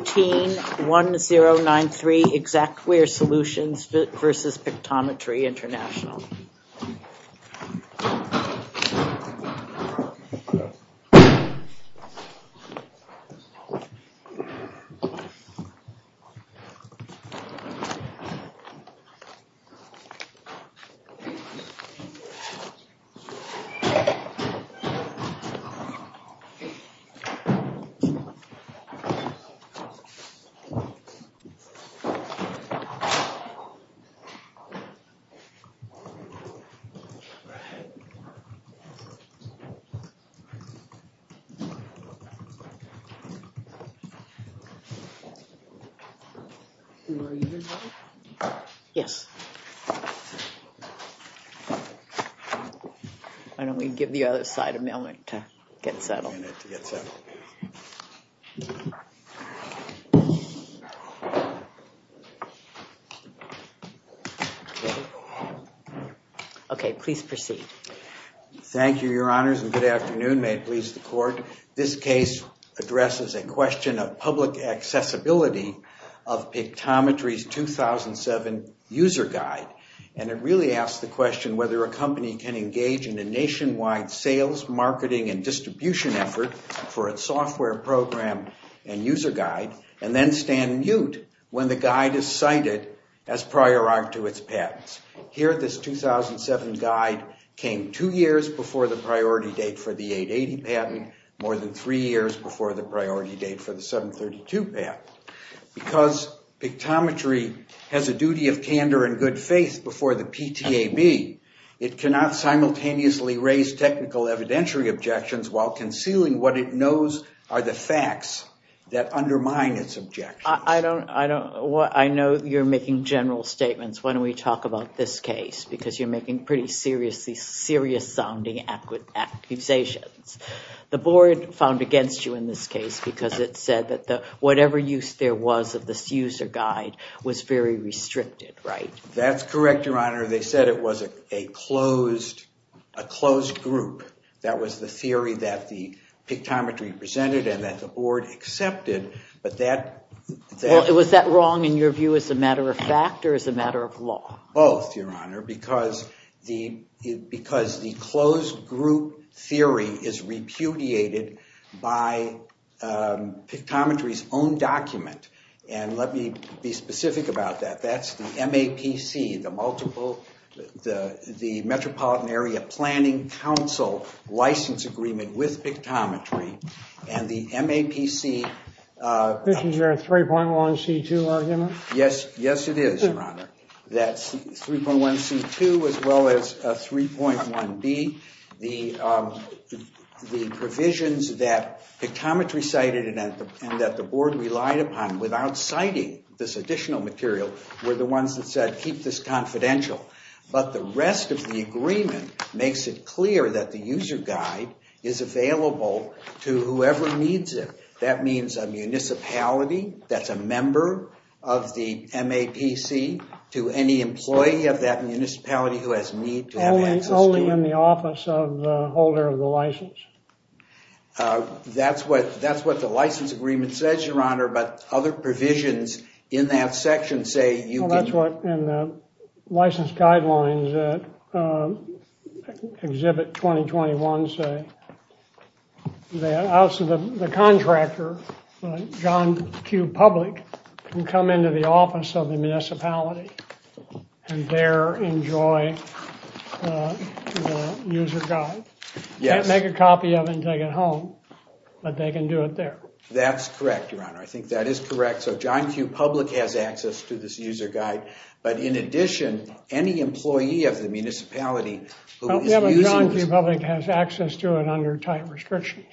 131093, Xactware Solutions v. Pictometry International. And we'll give the other side a moment to get settled. Okay, please proceed. Thank you, your honors, and good afternoon. May it please the court. This case addresses a question of public accessibility of Pictometry's 2007 user guide. And it really asks the question whether a company can engage in a nationwide sales, marketing, and distribution effort for its software program and user guide and then stand mute when the guide is cited as prior art to its patents. Here, this 2007 guide came two years before the priority date for the 880 patent, more than three years before the priority date for the 732 patent. Because Pictometry has a duty of candor and good faith before the PTAB, it cannot simultaneously raise technical evidentiary objections while concealing what it knows are the facts that undermine its objections. I know you're making general statements when we talk about this case because you're making pretty serious sounding accusations. The board found against you in this case because it said that whatever use there was of this user guide was very restricted, right? That's correct, your honor. They said it was a closed group. That was the theory that the Pictometry presented and that the board accepted. Was that wrong in your view as a matter of fact or as a matter of law? Both, your honor, because the closed group theory is repudiated by Pictometry's own document. And let me be specific about that. That's the MAPC, the Metropolitan Area Planning Council license agreement with Pictometry. And the MAPC... This is your 3.1C2 argument? Yes, yes it is, your honor. That's 3.1C2 as well as 3.1B. The provisions that Pictometry cited and that the board relied upon without citing this additional material were the ones that said keep this confidential. But the rest of the agreement makes it clear that the user guide is available to whoever needs it. That means a municipality that's a member of the MAPC to any employee of that municipality who has need to have access to... Only in the office of the holder of the license. That's what the license agreement says, your honor, but other provisions in that section say... That's what the license guidelines at Exhibit 2021 say. The contractor, John Q. Public, can come into the office of the municipality and there enjoy the user guide. Can't make a copy of it and take it home, but they can do it there. That's correct, your honor. I think that is correct. So John Q. Public has access to this user guide. But in addition, any employee of the municipality... But John Q. Public has access to it under tight restrictions.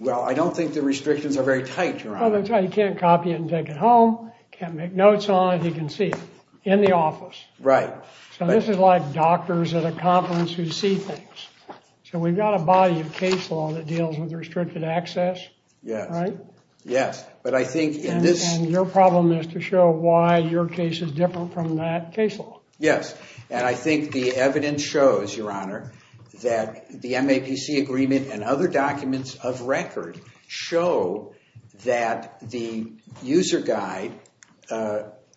Well, I don't think the restrictions are very tight, your honor. You can't copy it and take it home, can't make notes on it. You can see it in the office. Right. So this is like doctors at a conference who see things. So we've got a body of case law that deals with restricted access. Yes. Right? Yes, but I think in this... And your problem is to show why your case is different from that case law. Yes, and I think the evidence shows, your honor, that the MAPC agreement and other documents of record show that the user guide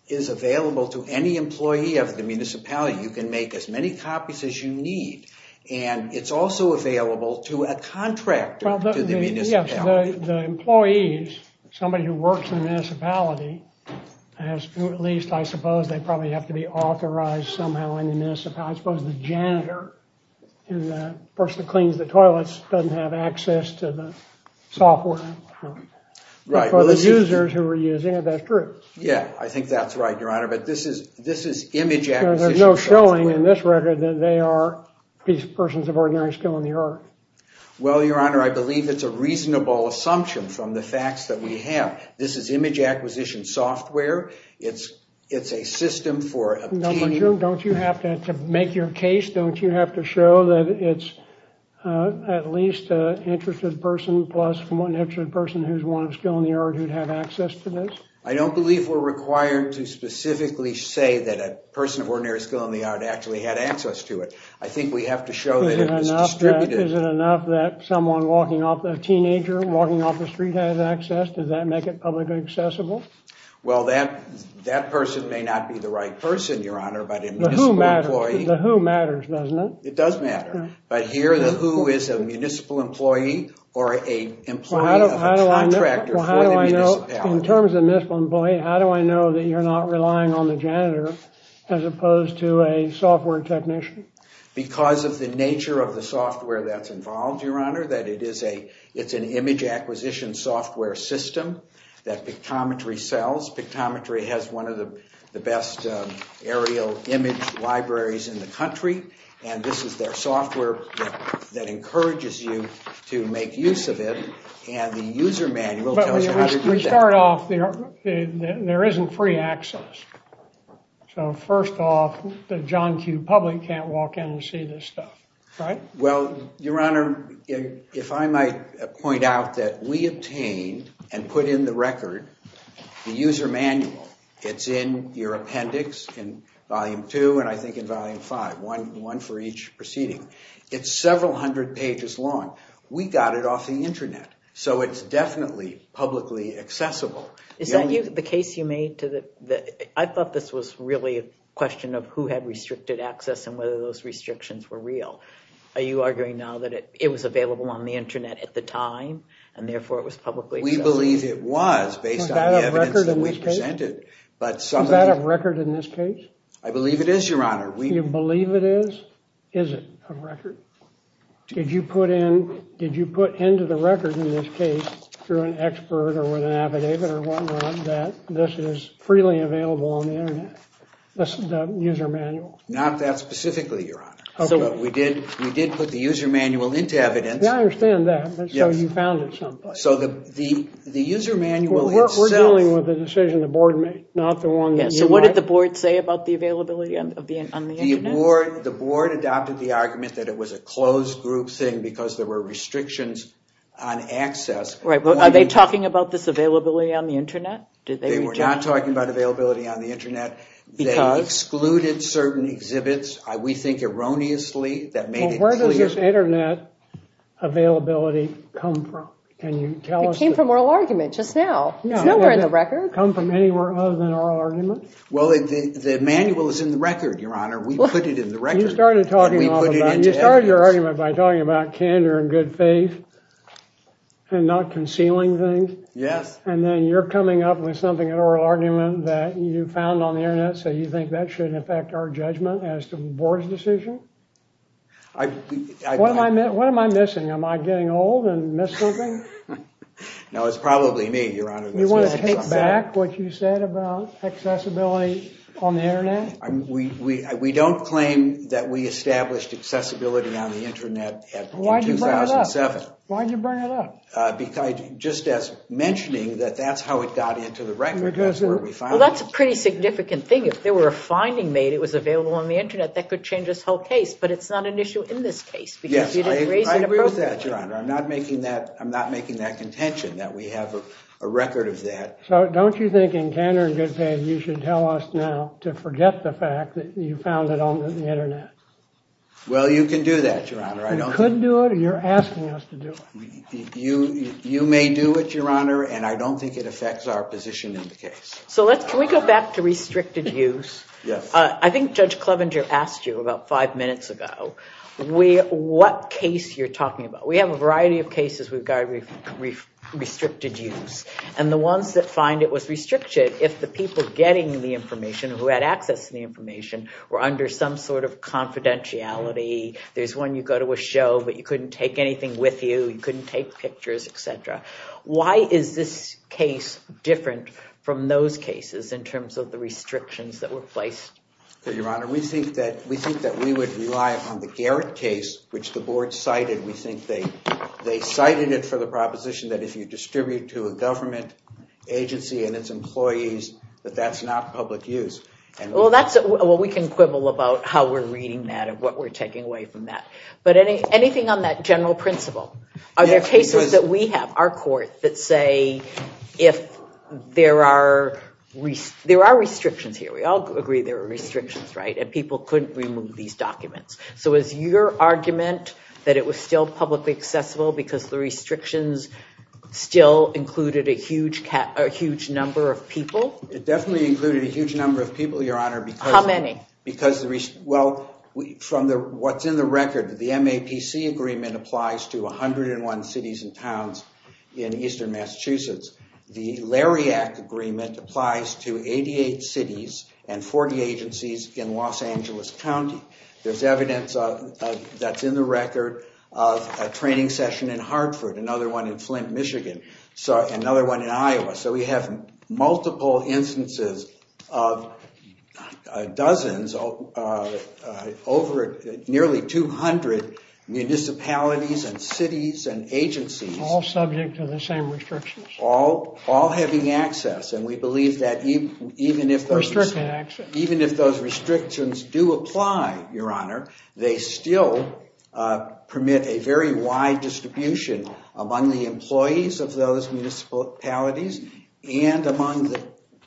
is available to any employee of the municipality. You can make as many copies as you need, and it's also available to a contractor to the municipality. Yes, the employees, somebody who works in the municipality, at least I suppose they probably have to be authorized somehow in the municipality. I suppose the janitor, the person who cleans the toilets, doesn't have access to the software for the users who are using it. That's true. Yeah, I think that's right, your honor. But this is image acquisition. There's no showing in this record that they are persons of ordinary skill in the art. Well, your honor, I believe it's a reasonable assumption from the facts that we have. This is image acquisition software. It's a system for obtaining... Don't you have to make your case? Don't you have to show that it's at least an interested person plus one interested person who's one of skill in the art who'd have access to this? I don't believe we're required to specifically say that a person of ordinary skill in the art actually had access to it. I think we have to show that it was distributed. Is it enough that someone walking off, a teenager walking off the street has access? Does that make it publicly accessible? Well, that person may not be the right person, your honor, but a municipal employee... The who matters, doesn't it? It does matter, but here the who is a municipal employee or an employee of a contractor for the municipality. In terms of municipal employee, how do I know that you're not relying on the janitor as opposed to a software technician? Because of the nature of the software that's involved, your honor, that it's an image acquisition software system that Pictometry sells. Pictometry has one of the best aerial image libraries in the country, and this is their software that encourages you to make use of it, and the user manual tells you how to do that. We start off, there isn't free access. So first off, the John Q. public can't walk in and see this stuff, right? Well, your honor, if I might point out that we obtained and put in the record the user manual. It's in your appendix in volume two, and I think in volume five, one for each proceeding. It's several hundred pages long. We got it off the internet, so it's definitely publicly accessible. Is that the case you made? I thought this was really a question of who had restricted access and whether those restrictions were real. Are you arguing now that it was available on the internet at the time, and therefore it was publicly accessible? We believe it was based on the evidence that we presented. Is that a record in this case? I believe it is, your honor. You believe it is? Is it a record? Did you put into the record in this case, through an expert or with an affidavit or whatnot, that this is freely available on the internet? The user manual. Not that specifically, your honor. We did put the user manual into evidence. I understand that, but so you found it someplace. So the user manual itself... We're dealing with a decision the board made, not the one that you want. So what did the board say about the availability on the internet? The board adopted the argument that it was a closed group thing because there were restrictions on access. Are they talking about this availability on the internet? They were not talking about availability on the internet. They excluded certain exhibits, we think erroneously. Where does this internet availability come from? It came from oral argument just now. It's nowhere in the record. Did it come from anywhere other than oral argument? Well, the manual is in the record, your honor. We put it in the record. You started your argument by talking about candor and good faith and not concealing things. Yes. And then you're coming up with something, an oral argument that you found on the internet, so you think that shouldn't affect our judgment as to the board's decision? What am I missing? Am I getting old and missing something? No, it's probably me, your honor. You want to take back what you said about accessibility on the internet? We don't claim that we established accessibility on the internet in 2007. Why did you bring it up? Just as mentioning that that's how it got into the record. Well, that's a pretty significant thing. If there were a finding made it was available on the internet, that could change this whole case, but it's not an issue in this case. Yes, I agree with that, your honor. I'm not making that contention that we have a record of that. So don't you think in candor and good faith you should tell us now to forget the fact that you found it on the internet? Well, you can do that, your honor. You could do it or you're asking us to do it. You may do it, your honor, and I don't think it affects our position in the case. So can we go back to restricted use? Yes. I think Judge Clevenger asked you about five minutes ago what case you're talking about. We have a variety of cases regarding restricted use. And the ones that find it was restricted, if the people getting the information, who had access to the information, were under some sort of confidentiality. There's one you go to a show, but you couldn't take anything with you. You couldn't take pictures, et cetera. Why is this case different from those cases in terms of the restrictions that were placed? Your honor, we think that we would rely upon the Garrett case, which the board cited. We think they cited it for the proposition that if you distribute to a government agency and its employees, that that's not public use. Well, we can quibble about how we're reading that and what we're taking away from that. But anything on that general principle? Are there cases that we have, our court, that say there are restrictions here? We all agree there are restrictions, right? And people couldn't remove these documents. So is your argument that it was still publicly accessible because the restrictions still included a huge number of people? It definitely included a huge number of people, your honor. How many? Well, from what's in the record, the MAPC agreement applies to 101 cities and towns in eastern Massachusetts. The LARIAC agreement applies to 88 cities and 40 agencies in Los Angeles County. There's evidence that's in the record of a training session in Hartford, another one in Flint, Michigan, another one in Iowa. So we have multiple instances of dozens, nearly 200 municipalities and cities and agencies. All subject to the same restrictions? All having access. And we believe that even if those restrictions do apply, your honor, they still permit a very wide distribution among the employees of those municipalities and among the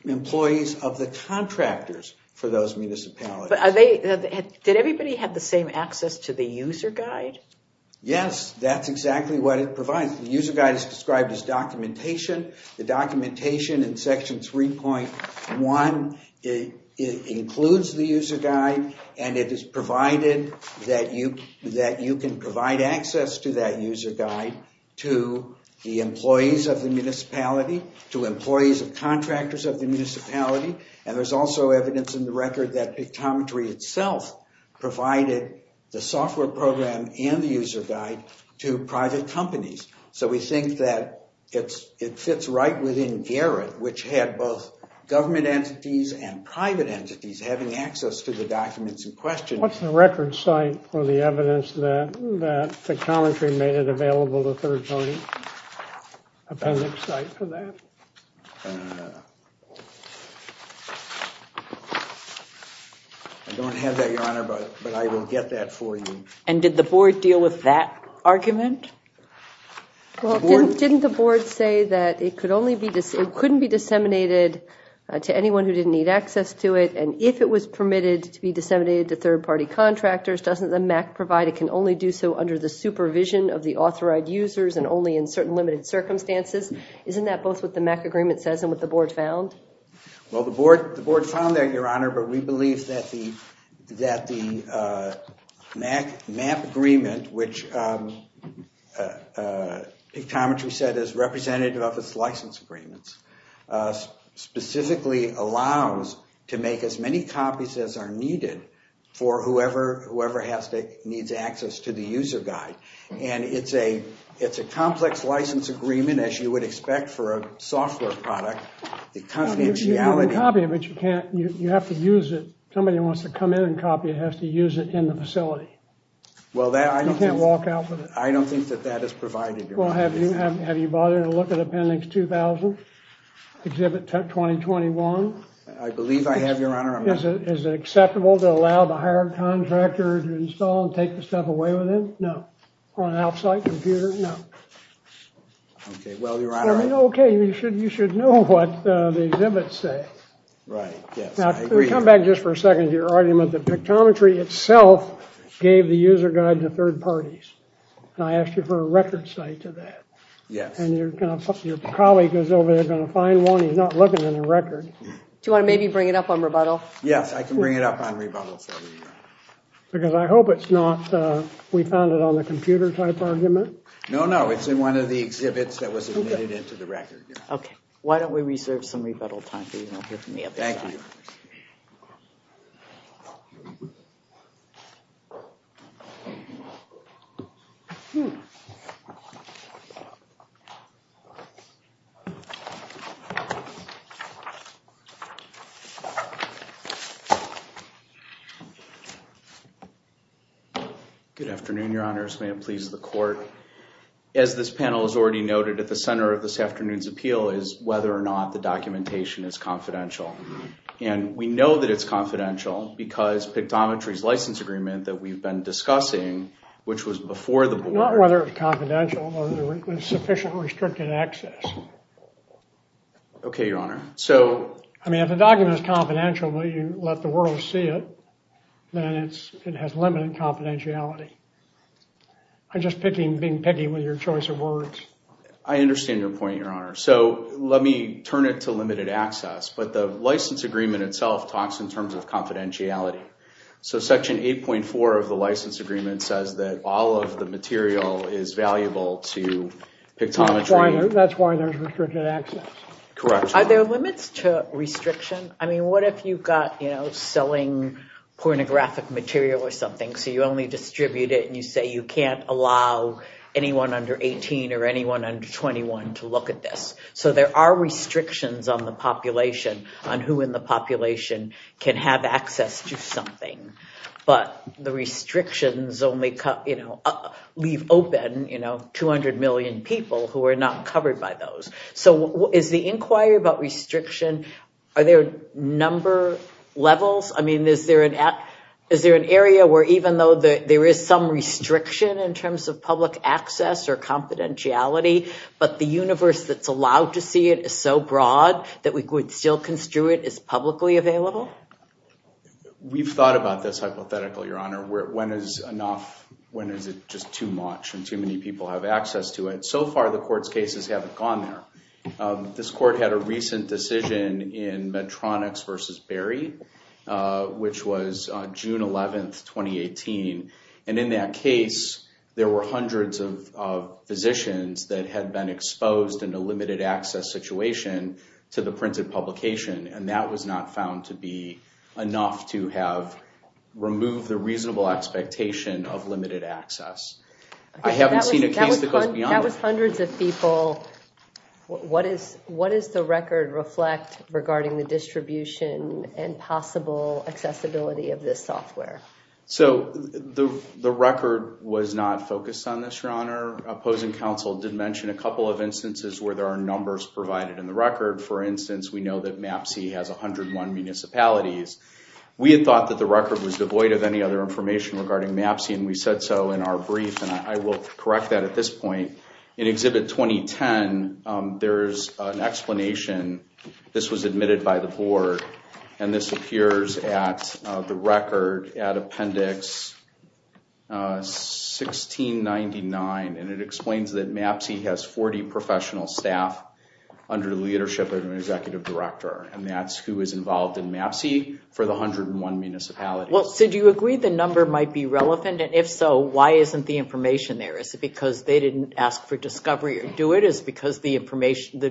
employees of the contractors for those municipalities. Did everybody have the same access to the user guide? Yes, that's exactly what it provides. The user guide is described as documentation. The documentation in section 3.1 includes the user guide, and it is provided that you can provide access to that user guide to the employees of the municipality, to employees of contractors of the municipality. And there's also evidence in the record that Pictometry itself provided the software program and the user guide to private companies. So we think that it fits right within Garrett, which had both government entities and private entities having access to the documents in question. What's the record site for the evidence that Pictometry made it available to third parties? Appendix site for that? I don't have that, your honor, but I will get that for you. And did the board deal with that argument? Well, didn't the board say that it couldn't be disseminated to anyone who didn't need access to it? And if it was permitted to be disseminated to third-party contractors, doesn't the MAC provide it can only do so under the supervision of the authorized users and only in certain limited circumstances? Isn't that both what the MAC agreement says and what the board found? Well, the board found that, your honor, but we believe that the MAC agreement, which Pictometry said is representative of its license agreements, specifically allows to make as many copies as are needed for whoever needs access to the user guide. And it's a complex license agreement, as you would expect for a software product. You can copy it, but you have to use it. Somebody wants to come in and copy it has to use it in the facility. You can't walk out with it. I don't think that that is provided, your honor. Well, have you bothered to look at Appendix 2000, Exhibit 2021? I believe I have, your honor. Is it acceptable to allow the hired contractor to install and take the stuff away with it? No. On an off-site computer? No. Okay, well, your honor. Okay, you should know what the exhibits say. Right, yes, I agree. Now, come back just for a second to your argument that Pictometry itself gave the user guide to third parties. And I asked you for a record site to that. Yes. And your colleague is over there going to find one. He's not looking in the record. Do you want to maybe bring it up on rebuttal? Yes, I can bring it up on rebuttal. Because I hope it's not, we found it on the computer type argument. No, no, it's in one of the exhibits that was admitted into the record. Okay, why don't we reserve some rebuttal time for you. Thank you. Good afternoon, your honors. May it please the court. As this panel has already noted, at the center of this afternoon's appeal is whether or not the documentation is confidential. And we know that it's confidential because Pictometry's license agreement that we've been discussing, which was before the board. Not whether it's confidential, but sufficient restricted access. Okay, your honor. I mean, if the document is confidential, but you let the world see it, then it has limited confidentiality. I'm just being picky with your choice of words. I understand your point, your honor. So let me turn it to limited access. But the license agreement itself talks in terms of confidentiality. So section 8.4 of the license agreement says that all of the material is valuable to Pictometry. That's why there's restricted access. Correct. Are there limits to restriction? I mean, what if you've got, you know, selling pornographic material or something. So you only distribute it and you say you can't allow anyone under 18 or anyone under 21 to look at this. So there are restrictions on the population, on who in the population can have access to something. But the restrictions only leave open, you know, 200 million people who are not covered by those. So is the inquiry about restriction, are there number levels? I mean, is there an area where even though there is some restriction in terms of public access or confidentiality, but the universe that's allowed to see it is so broad that we could still construe it as publicly available? We've thought about this hypothetically, your honor. When is enough, when is it just too much and too many people have access to it? So far, the court's cases haven't gone there. This court had a recent decision in Medtronics v. Berry, which was June 11, 2018. And in that case, there were hundreds of physicians that had been exposed in a limited access situation to the printed publication. And that was not found to be enough to have removed the reasonable expectation of limited access. I haven't seen a case that goes beyond that. That was hundreds of people. What does the record reflect regarding the distribution and possible accessibility of this software? So the record was not focused on this, your honor. Opposing counsel did mention a couple of instances where there are numbers provided in the record. For instance, we know that MAPC has 101 municipalities. We had thought that the record was devoid of any other information regarding MAPC, and we said so in our brief. And I will correct that at this point. In Exhibit 2010, there's an explanation. This was admitted by the board, and this appears at the record at Appendix 1699. And it explains that MAPC has 40 professional staff under the leadership of an executive director. And that's who is involved in MAPC for the 101 municipalities. Well, so do you agree the number might be relevant? And if so, why isn't the information there? Is it because they didn't ask for discovery or do it? Is it because the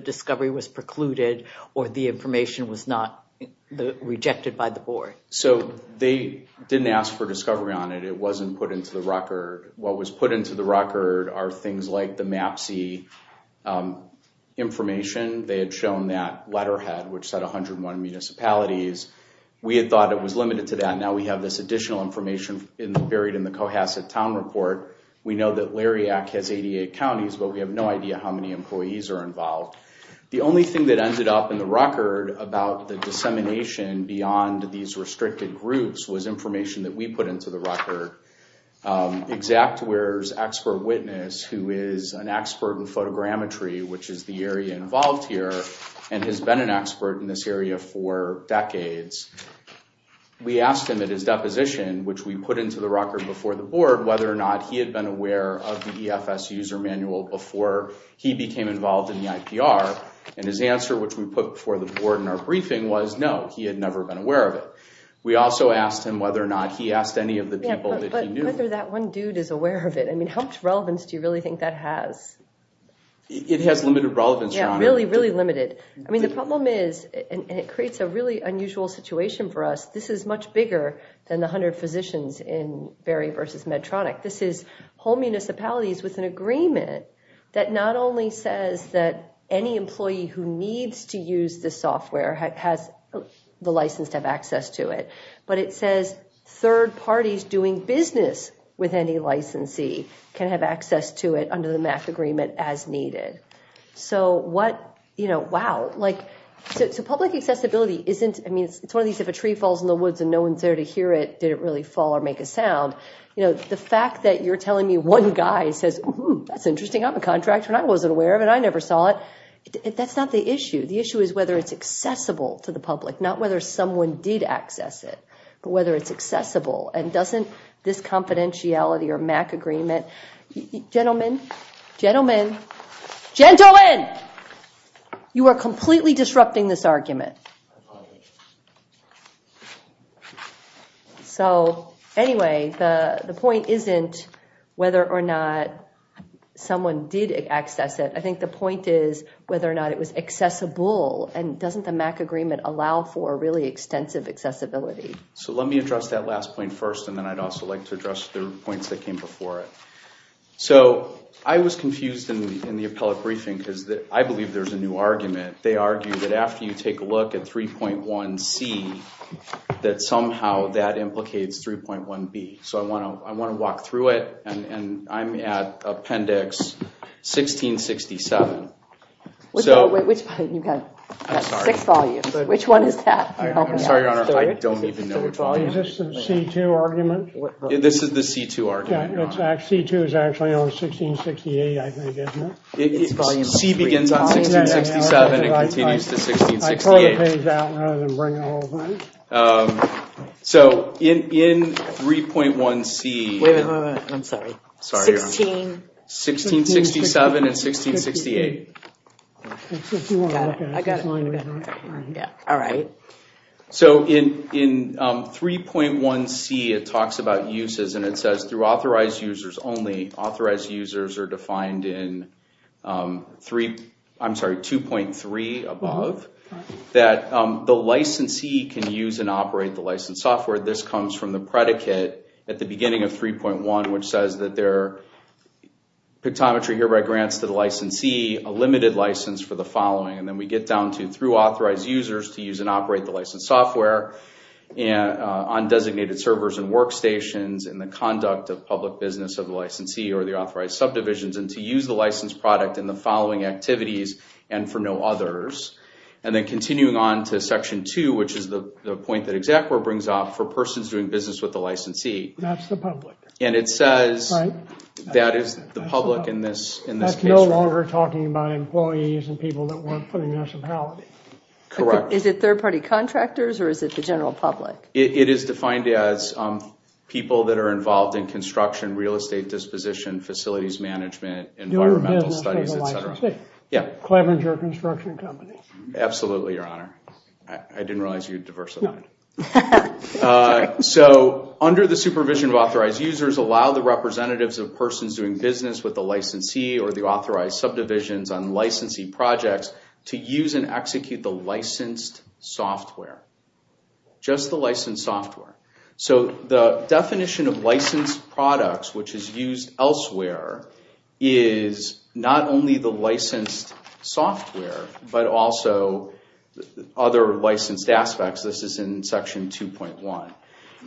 discovery was precluded or the information was not rejected by the board? So they didn't ask for discovery on it. It wasn't put into the record. What was put into the record are things like the MAPC information. They had shown that letterhead, which said 101 municipalities. We had thought it was limited to that. Now we have this additional information buried in the Cohasset Town Report. We know that Lariat has 88 counties, but we have no idea how many employees are involved. The only thing that ended up in the record about the dissemination beyond these restricted groups was information that we put into the record. Exactwear's expert witness, who is an expert in photogrammetry, which is the area involved here, and has been an expert in this area for decades, we asked him at his deposition, which we put into the record before the board, whether or not he had been aware of the EFS user manual before he became involved in the IPR. And his answer, which we put before the board in our briefing, was no, he had never been aware of it. We also asked him whether or not he asked any of the people that he knew. Yeah, but whether that one dude is aware of it. I mean, how much relevance do you really think that has? It has limited relevance, Your Honor. Yeah, really, really limited. I mean, the problem is, and it creates a really unusual situation for us, this is much bigger than the 100 physicians in Berry v. Medtronic. This is whole municipalities with an agreement that not only says that any employee who needs to use this software has the license to have access to it, but it says third parties doing business with any licensee can have access to it under the MAC agreement as needed. So what, you know, wow, like, so public accessibility isn't, I mean, it's one of these, if a tree falls in the woods and no one's there to hear it, did it really fall or make a sound? You know, the fact that you're telling me one guy says, oh, that's interesting. I'm a contractor and I wasn't aware of it. I never saw it. That's not the issue. The issue is whether it's accessible to the public, not whether someone did access it, but whether it's accessible. And doesn't this confidentiality or MAC agreement, gentlemen, gentlemen, gentlemen, you are completely disrupting this argument. So anyway, the point isn't whether or not someone did access it. I think the point is whether or not it was accessible. And doesn't the MAC agreement allow for really extensive accessibility? So let me address that last point first, and then I'd also like to address the points that came before it. So I was confused in the appellate briefing because I believe there's a new argument. They argue that after you take a look at 3.1C, that somehow that implicates 3.1B. So I want to walk through it, and I'm at Appendix 1667. Which one is that? I'm sorry, Your Honor, I don't even know which one. Is this the C2 argument? This is the C2 argument, Your Honor. C2 is actually on 1668, I think, isn't it? C begins on 1667 and continues to 1668. So in 3.1C... Wait a minute, I'm sorry. Sorry, Your Honor. 16... 1667 and 1668. I got it. All right. So in 3.1C, it talks about uses, and it says through authorized users only. Authorized users are defined in 3... I'm sorry, 2.3 above. That the licensee can use and operate the licensed software. This comes from the predicate at the beginning of 3.1, which says that there... Pictometry hereby grants to the licensee a limited license for the following. And then we get down to through authorized users to use and operate the licensed software, on designated servers and workstations, in the conduct of public business of the licensee or the authorized subdivisions, and to use the licensed product in the following activities and for no others. And then continuing on to Section 2, which is the point that Exactly brings up, for persons doing business with the licensee. That's the public. And it says that is the public in this case. No longer talking about employees and people that work for the municipality. Correct. Is it third-party contractors or is it the general public? It is defined as people that are involved in construction, real estate disposition, facilities management, environmental studies, etc. Clevenger Construction Company. Absolutely, Your Honor. I didn't realize you were diversified. So under the supervision of authorized users, authorized users allow the representatives of persons doing business with the licensee or the authorized subdivisions on licensee projects to use and execute the licensed software. Just the licensed software. So the definition of licensed products, which is used elsewhere, is not only the licensed software but also other licensed aspects. This is in Section 2.1.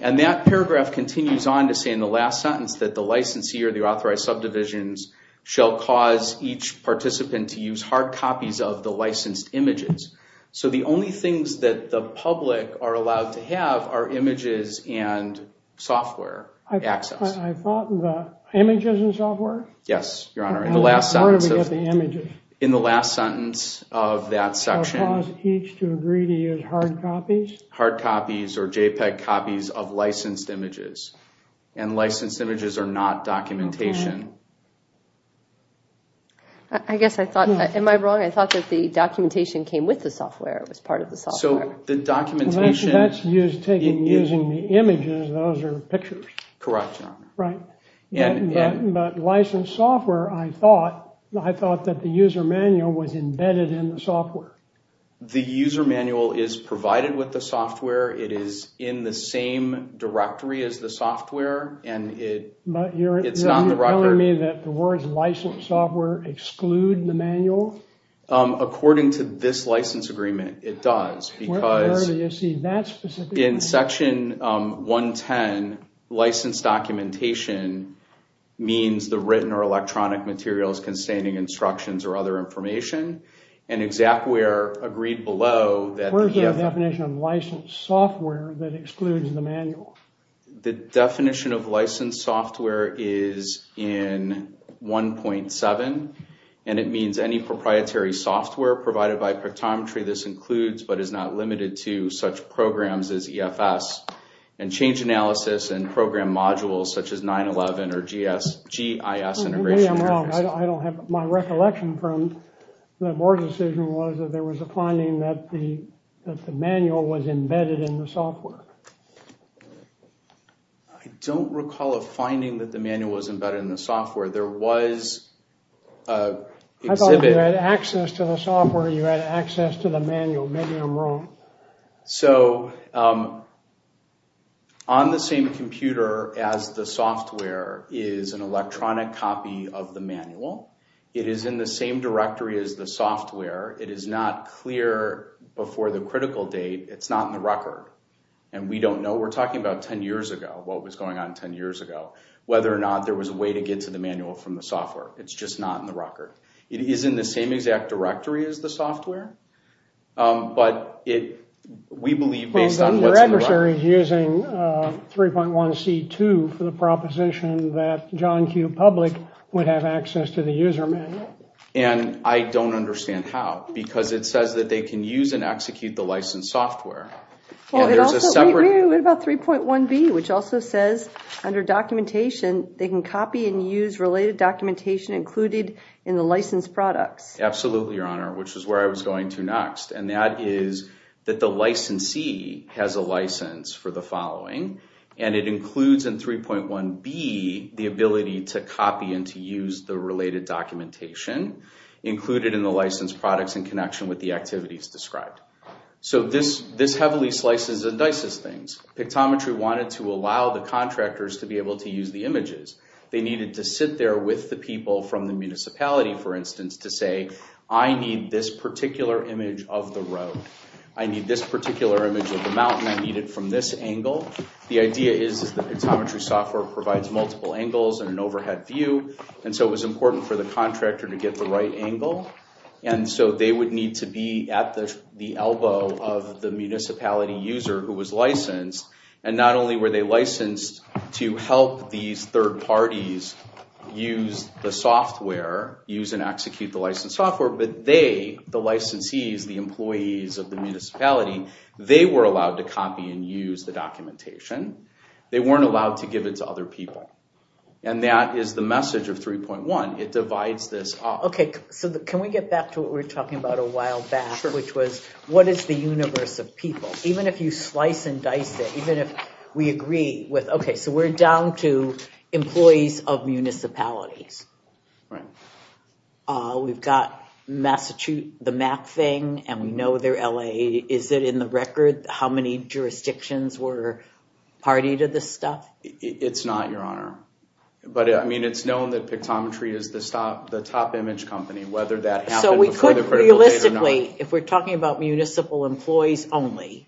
And that paragraph continues on to say in the last sentence that the licensee or the authorized subdivisions shall cause each participant to use hard copies of the licensed images. So the only things that the public are allowed to have are images and software access. Images and software? Yes, Your Honor. Where do we get the images? In the last sentence of that section. Shall cause each to agree to use hard copies? Hard copies or JPEG copies of licensed images. And licensed images are not documentation. I guess I thought, am I wrong? I thought that the documentation came with the software. It was part of the software. So the documentation. That's taken using the images. Those are pictures. Correct, Your Honor. Right. But licensed software, I thought, I thought that the user manual was embedded in the software. The user manual is provided with the software. It is in the same directory as the software. And it's not in the record. But you're telling me that the words licensed software exclude the manual? According to this license agreement, it does. Where do you see that specifically? In Section 110, license documentation means the written or electronic materials containing instructions or other information. And ExacWare agreed below. Where is the definition of licensed software that excludes the manual? The definition of licensed software is in 1.7. And it means any proprietary software provided by Pictometry. This includes but is not limited to such programs as EFS. And change analysis and program modules such as 911 or GIS. Maybe I'm wrong. My recollection from the board decision was that there was a finding that the manual was embedded in the software. I don't recall a finding that the manual was embedded in the software. There was an exhibit. I thought you had access to the software. You had access to the manual. Maybe I'm wrong. So on the same computer as the software is an electronic copy of the manual. It is in the same directory as the software. It is not clear before the critical date. It's not in the record. And we don't know. We're talking about 10 years ago, what was going on 10 years ago, whether or not there was a way to get to the manual from the software. It's just not in the record. It is in the same exact directory as the software. But we believe based on what's in the record. Your adversary is using 3.1C2 for the proposition that John Q. Public would have access to the user manual. And I don't understand how because it says that they can use and execute the licensed software. What about 3.1B, which also says under documentation, they can copy and use related documentation included in the licensed products. Absolutely, Your Honor, which is where I was going to next. And that is that the licensee has a license for the following. And it includes in 3.1B the ability to copy and to use the related documentation included in the licensed products in connection with the activities described. So this heavily slices and dices things. Pictometry wanted to allow the contractors to be able to use the images. They needed to sit there with the people from the municipality, for instance, to say, I need this particular image of the road. I need this particular image of the mountain. I need it from this angle. The idea is that the pictometry software provides multiple angles and an overhead view. And so it was important for the contractor to get the right angle. And so they would need to be at the elbow of the municipality user who was licensed. And not only were they licensed to help these third parties use the software, use and execute the licensed software, but they, the licensees, the employees of the municipality, they were allowed to copy and use the documentation. They weren't allowed to give it to other people. And that is the message of 3.1. It divides this up. Okay, so can we get back to what we were talking about a while back, which was what is the universe of people? Even if you slice and dice it, even if we agree with, okay, so we're down to employees of municipalities. Right. We've got Massachusetts, the map thing, and we know they're LA. Is it in the record how many jurisdictions were party to this stuff? It's not, Your Honor. But, I mean, it's known that Pictometry is the top image company, whether that happened before the critical date or not. If we're talking about municipal employees only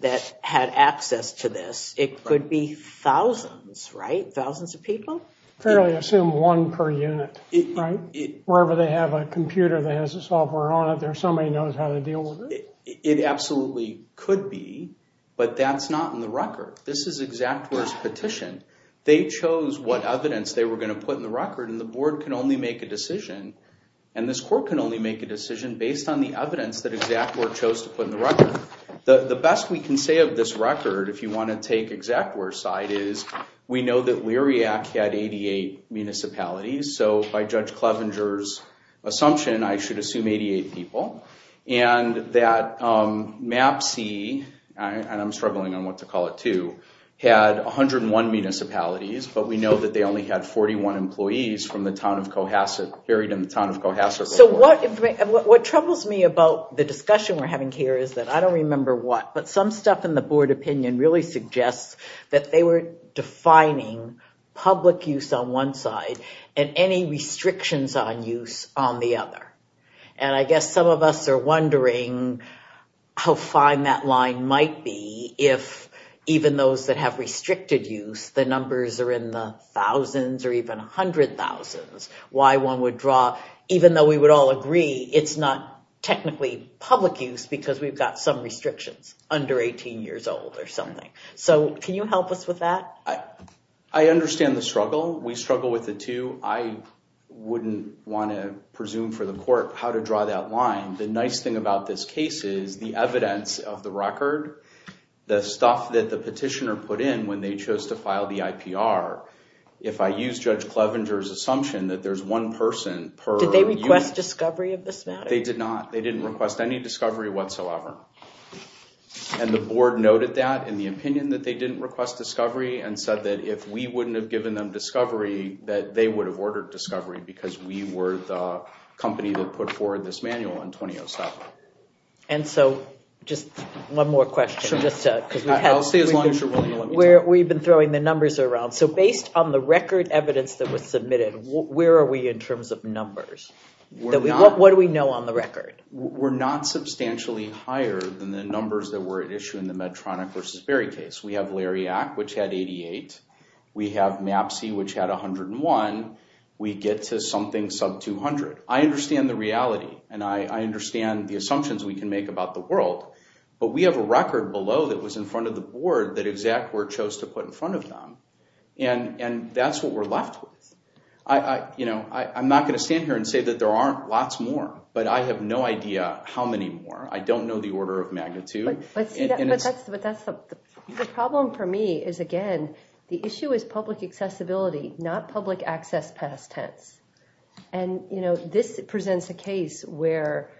that had access to this, it could be thousands, right? Thousands of people? Fairly assume one per unit, right? Wherever they have a computer that has the software on it, there's somebody who knows how to deal with it. It absolutely could be, but that's not in the record. This is ExactWare's petition. They chose what evidence they were going to put in the record, and the board can only make a decision. And this court can only make a decision based on the evidence that ExactWare chose to put in the record. The best we can say of this record, if you want to take ExactWare's side, is we know that Lyriac had 88 municipalities. So by Judge Clevenger's assumption, I should assume 88 people. And that MAP-C, and I'm struggling on what to call it too, had 101 municipalities. But we know that they only had 41 employees from the town of Cohasset, buried in the town of Cohasset. So what troubles me about the discussion we're having here is that I don't remember what, but some stuff in the board opinion really suggests that they were defining public use on one side and any restrictions on use on the other. And I guess some of us are wondering how fine that line might be if even those that have restricted use, the numbers are in the thousands or even hundred thousands. Why one would draw, even though we would all agree it's not technically public use because we've got some restrictions under 18 years old or something. So can you help us with that? I understand the struggle. We struggle with it too. I wouldn't want to presume for the court how to draw that line. The nice thing about this case is the evidence of the record, the stuff that the petitioner put in when they chose to file the IPR. If I use Judge Clevenger's assumption that there's one person per unit. Did they request discovery of this matter? They did not. They didn't request any discovery whatsoever. And the board noted that in the opinion that they didn't request discovery and said that if we wouldn't have given them discovery that they would have ordered discovery because we were the company that put forward this manual in 2007. And so just one more question. I'll stay as long as you're willing to let me talk. We've been throwing the numbers around. So based on the record evidence that was submitted, where are we in terms of numbers? What do we know on the record? We're not substantially higher than the numbers that were at issue in the Medtronic v. Berry case. We have Lariac, which had 88. We have MAPSE, which had 101. We get to something sub-200. I understand the reality, and I understand the assumptions we can make about the world, but we have a record below that was in front of the board that ExactWord chose to put in front of them, and that's what we're left with. I'm not going to stand here and say that there aren't lots more, but I have no idea how many more. I don't know the order of magnitude. The problem for me is, again, the issue is public accessibility, not public access past tense. And, you know, this presents a case where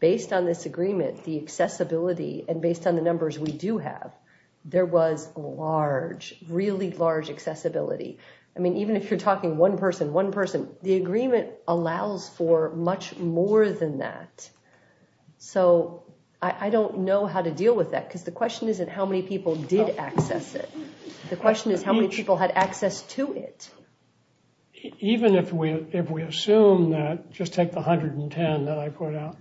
based on this agreement, the accessibility, and based on the numbers we do have, there was large, really large accessibility. I mean, even if you're talking one person, one person, the agreement allows for much more than that. So I don't know how to deal with that, because the question isn't how many people did access it. The question is how many people had access to it. Even if we assume that, just take the 110 that I put out,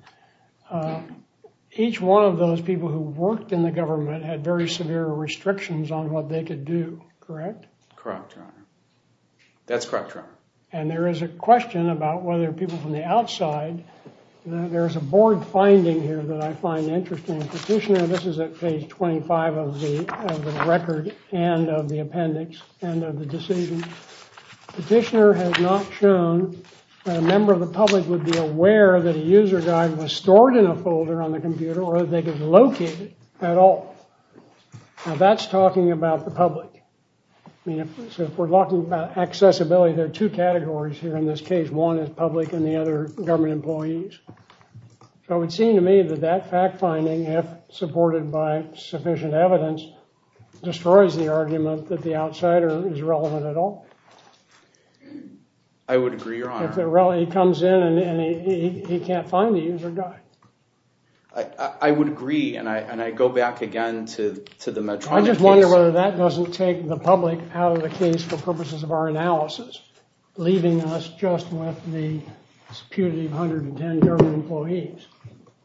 each one of those people who worked in the government had very severe restrictions on what they could do. Correct? Correct, Your Honor. That's correct, Your Honor. And there is a question about whether people from the outside, there's a board finding here that I find interesting. Petitioner, this is at page 25 of the record and of the appendix and of the decision. Petitioner has not shown that a member of the public would be aware that a user guide was stored in a folder on the computer or that they could locate it at all. Now that's talking about the public. I mean, if we're talking about accessibility, there are two categories here in this case. One is public and the other government employees. So it would seem to me that that fact finding, if supported by sufficient evidence, destroys the argument that the outsider is relevant at all. I would agree, Your Honor. If he comes in and he can't find the user guide. I just wonder whether that doesn't take the public out of the case for purposes of our analysis, leaving us just with the spew of 110 government employees.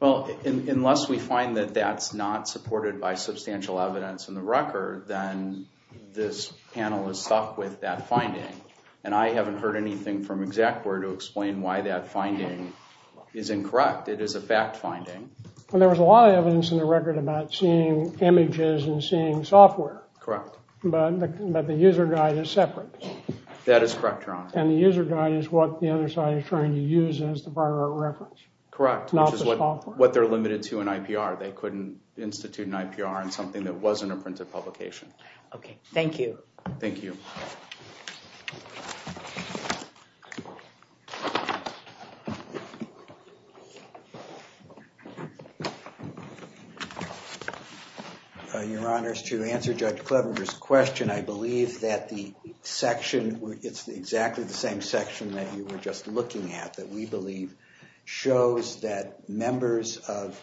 Well, unless we find that that's not supported by substantial evidence in the record, then this panel is stuck with that finding. And I haven't heard anything from Exec Board to explain why that finding is incorrect. It is a fact finding. Well, there was a lot of evidence in the record about seeing images and seeing software. Correct. But the user guide is separate. That is correct, Your Honor. And the user guide is what the other side is trying to use as the viral reference. Correct. Not the software. Which is what they're limited to in IPR. They couldn't institute an IPR in something that wasn't a printed publication. Okay. Thank you. Thank you. Your Honor, to answer Judge Clevenger's question, I believe that the section, it's exactly the same section that you were just looking at, that we believe shows that members of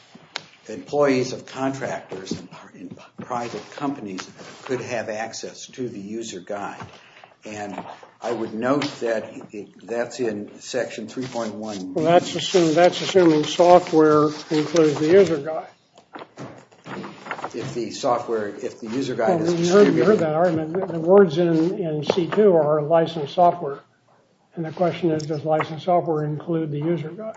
employees of contractors in private companies could have access to the user guide. And I would note that that's in Section 3.1. Well, that's assuming software includes the user guide. If the software, if the user guide is distributed... You heard that argument. The words in C2 are licensed software. And the question is, does licensed software include the user guide?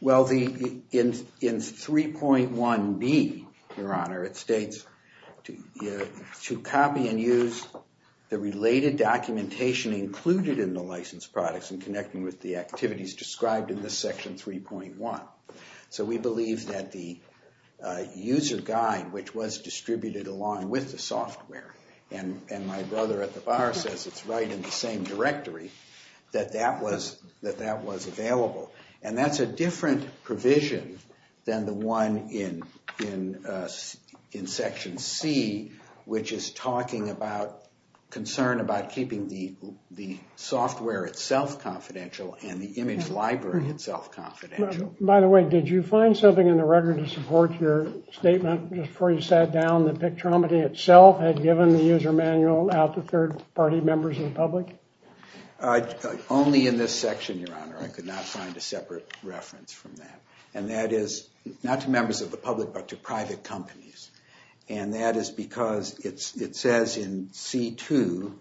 Well, in 3.1b, Your Honor, it states, to copy and use the related documentation included in the licensed products and connecting with the activities described in this Section 3.1. So we believe that the user guide, which was distributed along with the software, and my brother at the bar says it's right in the same directory, that that was available. And that's a different provision than the one in Section C, which is talking about concern about keeping the software itself confidential and the image library itself confidential. By the way, did you find something in the record to support your statement before you sat down that Pictromedy itself had given the user manual out to third-party members of the public? Only in this section, Your Honor. I could not find a separate reference from that. And that is not to members of the public, but to private companies. And that is because it says in C.2,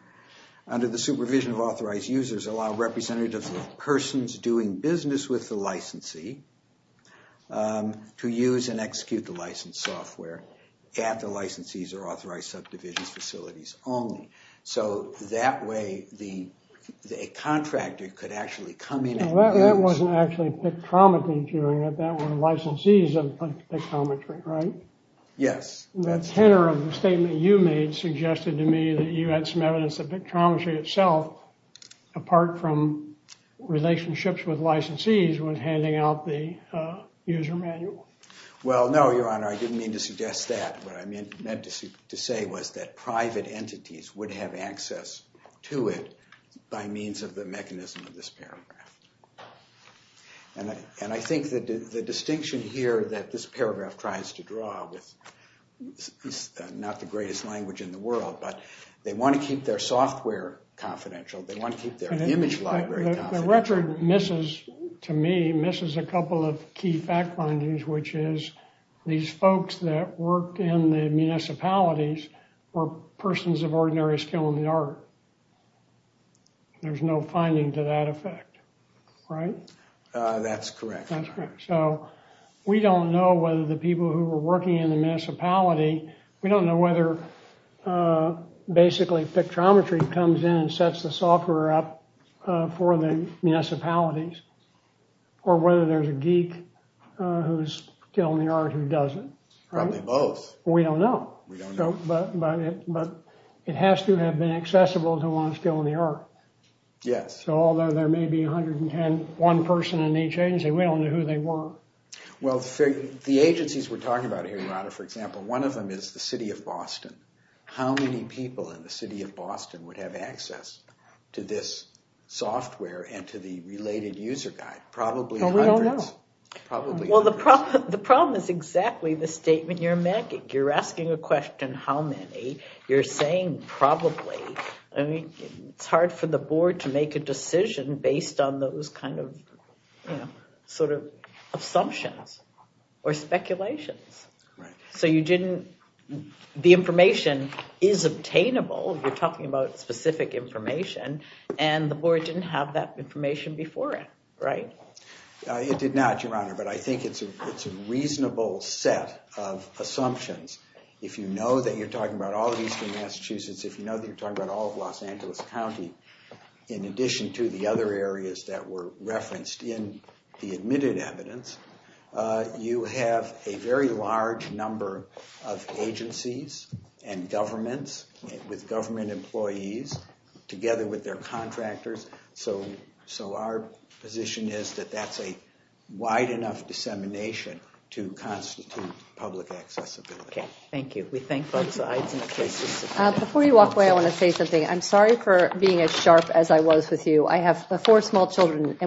under the supervision of authorized users, allow representatives of persons doing business with the licensee to use and execute the licensed software at the licensee's or authorized subdivision's facilities only. So that way, a contractor could actually come in and do this. That wasn't actually Pictromedy doing it. That were licensees of Pictometry, right? Yes. The tenor of the statement you made suggested to me that you had some evidence that Pictometry itself, apart from relationships with licensees, was handing out the user manual. Well, no, Your Honor. I didn't mean to suggest that. What I meant to say was that private entities would have access to it by means of the mechanism of this paragraph. And I think the distinction here that this paragraph tries to draw with not the greatest language in the world, but they want to keep their software confidential. They want to keep their image library confidential. The record misses, to me, misses a couple of key fact findings, which is these folks that work in the municipalities were persons of ordinary skill in the art. There's no finding to that effect, right? That's correct, Your Honor. That's correct. So we don't know whether the people who were working in the municipality, we don't know whether basically Pictrometry comes in and sets the software up for the municipalities or whether there's a geek who's skilled in the art who does it. Probably both. We don't know. We don't know. But it has to have been accessible to ones skilled in the art. Yes. So although there may be 110, one person in each agency, we don't know who they were. Well, the agencies we're talking about here, Your Honor, for example, one of them is the city of Boston. How many people in the city of Boston would have access to this software and to the related user guide? Probably hundreds. Well, we don't know. Probably hundreds. Well, the problem is exactly the statement you're making. You're asking a question, how many? You're saying probably. I mean, it's hard for the board to make a decision based on those kind of, you know, sort of assumptions or speculations. So you didn't – the information is obtainable. You're talking about specific information, and the board didn't have that information before it, right? It did not, Your Honor, but I think it's a reasonable set of assumptions. If you know that you're talking about all of eastern Massachusetts, if you know that you're talking about all of Los Angeles County, in addition to the other areas that were referenced in the admitted evidence, you have a very large number of agencies and governments with government employees together with their contractors. So our position is that that's a wide enough dissemination to constitute public accessibility. Okay, thank you. We thank both sides. Before you walk away, I want to say something. I'm sorry for being as sharp as I was with you. I have four small children,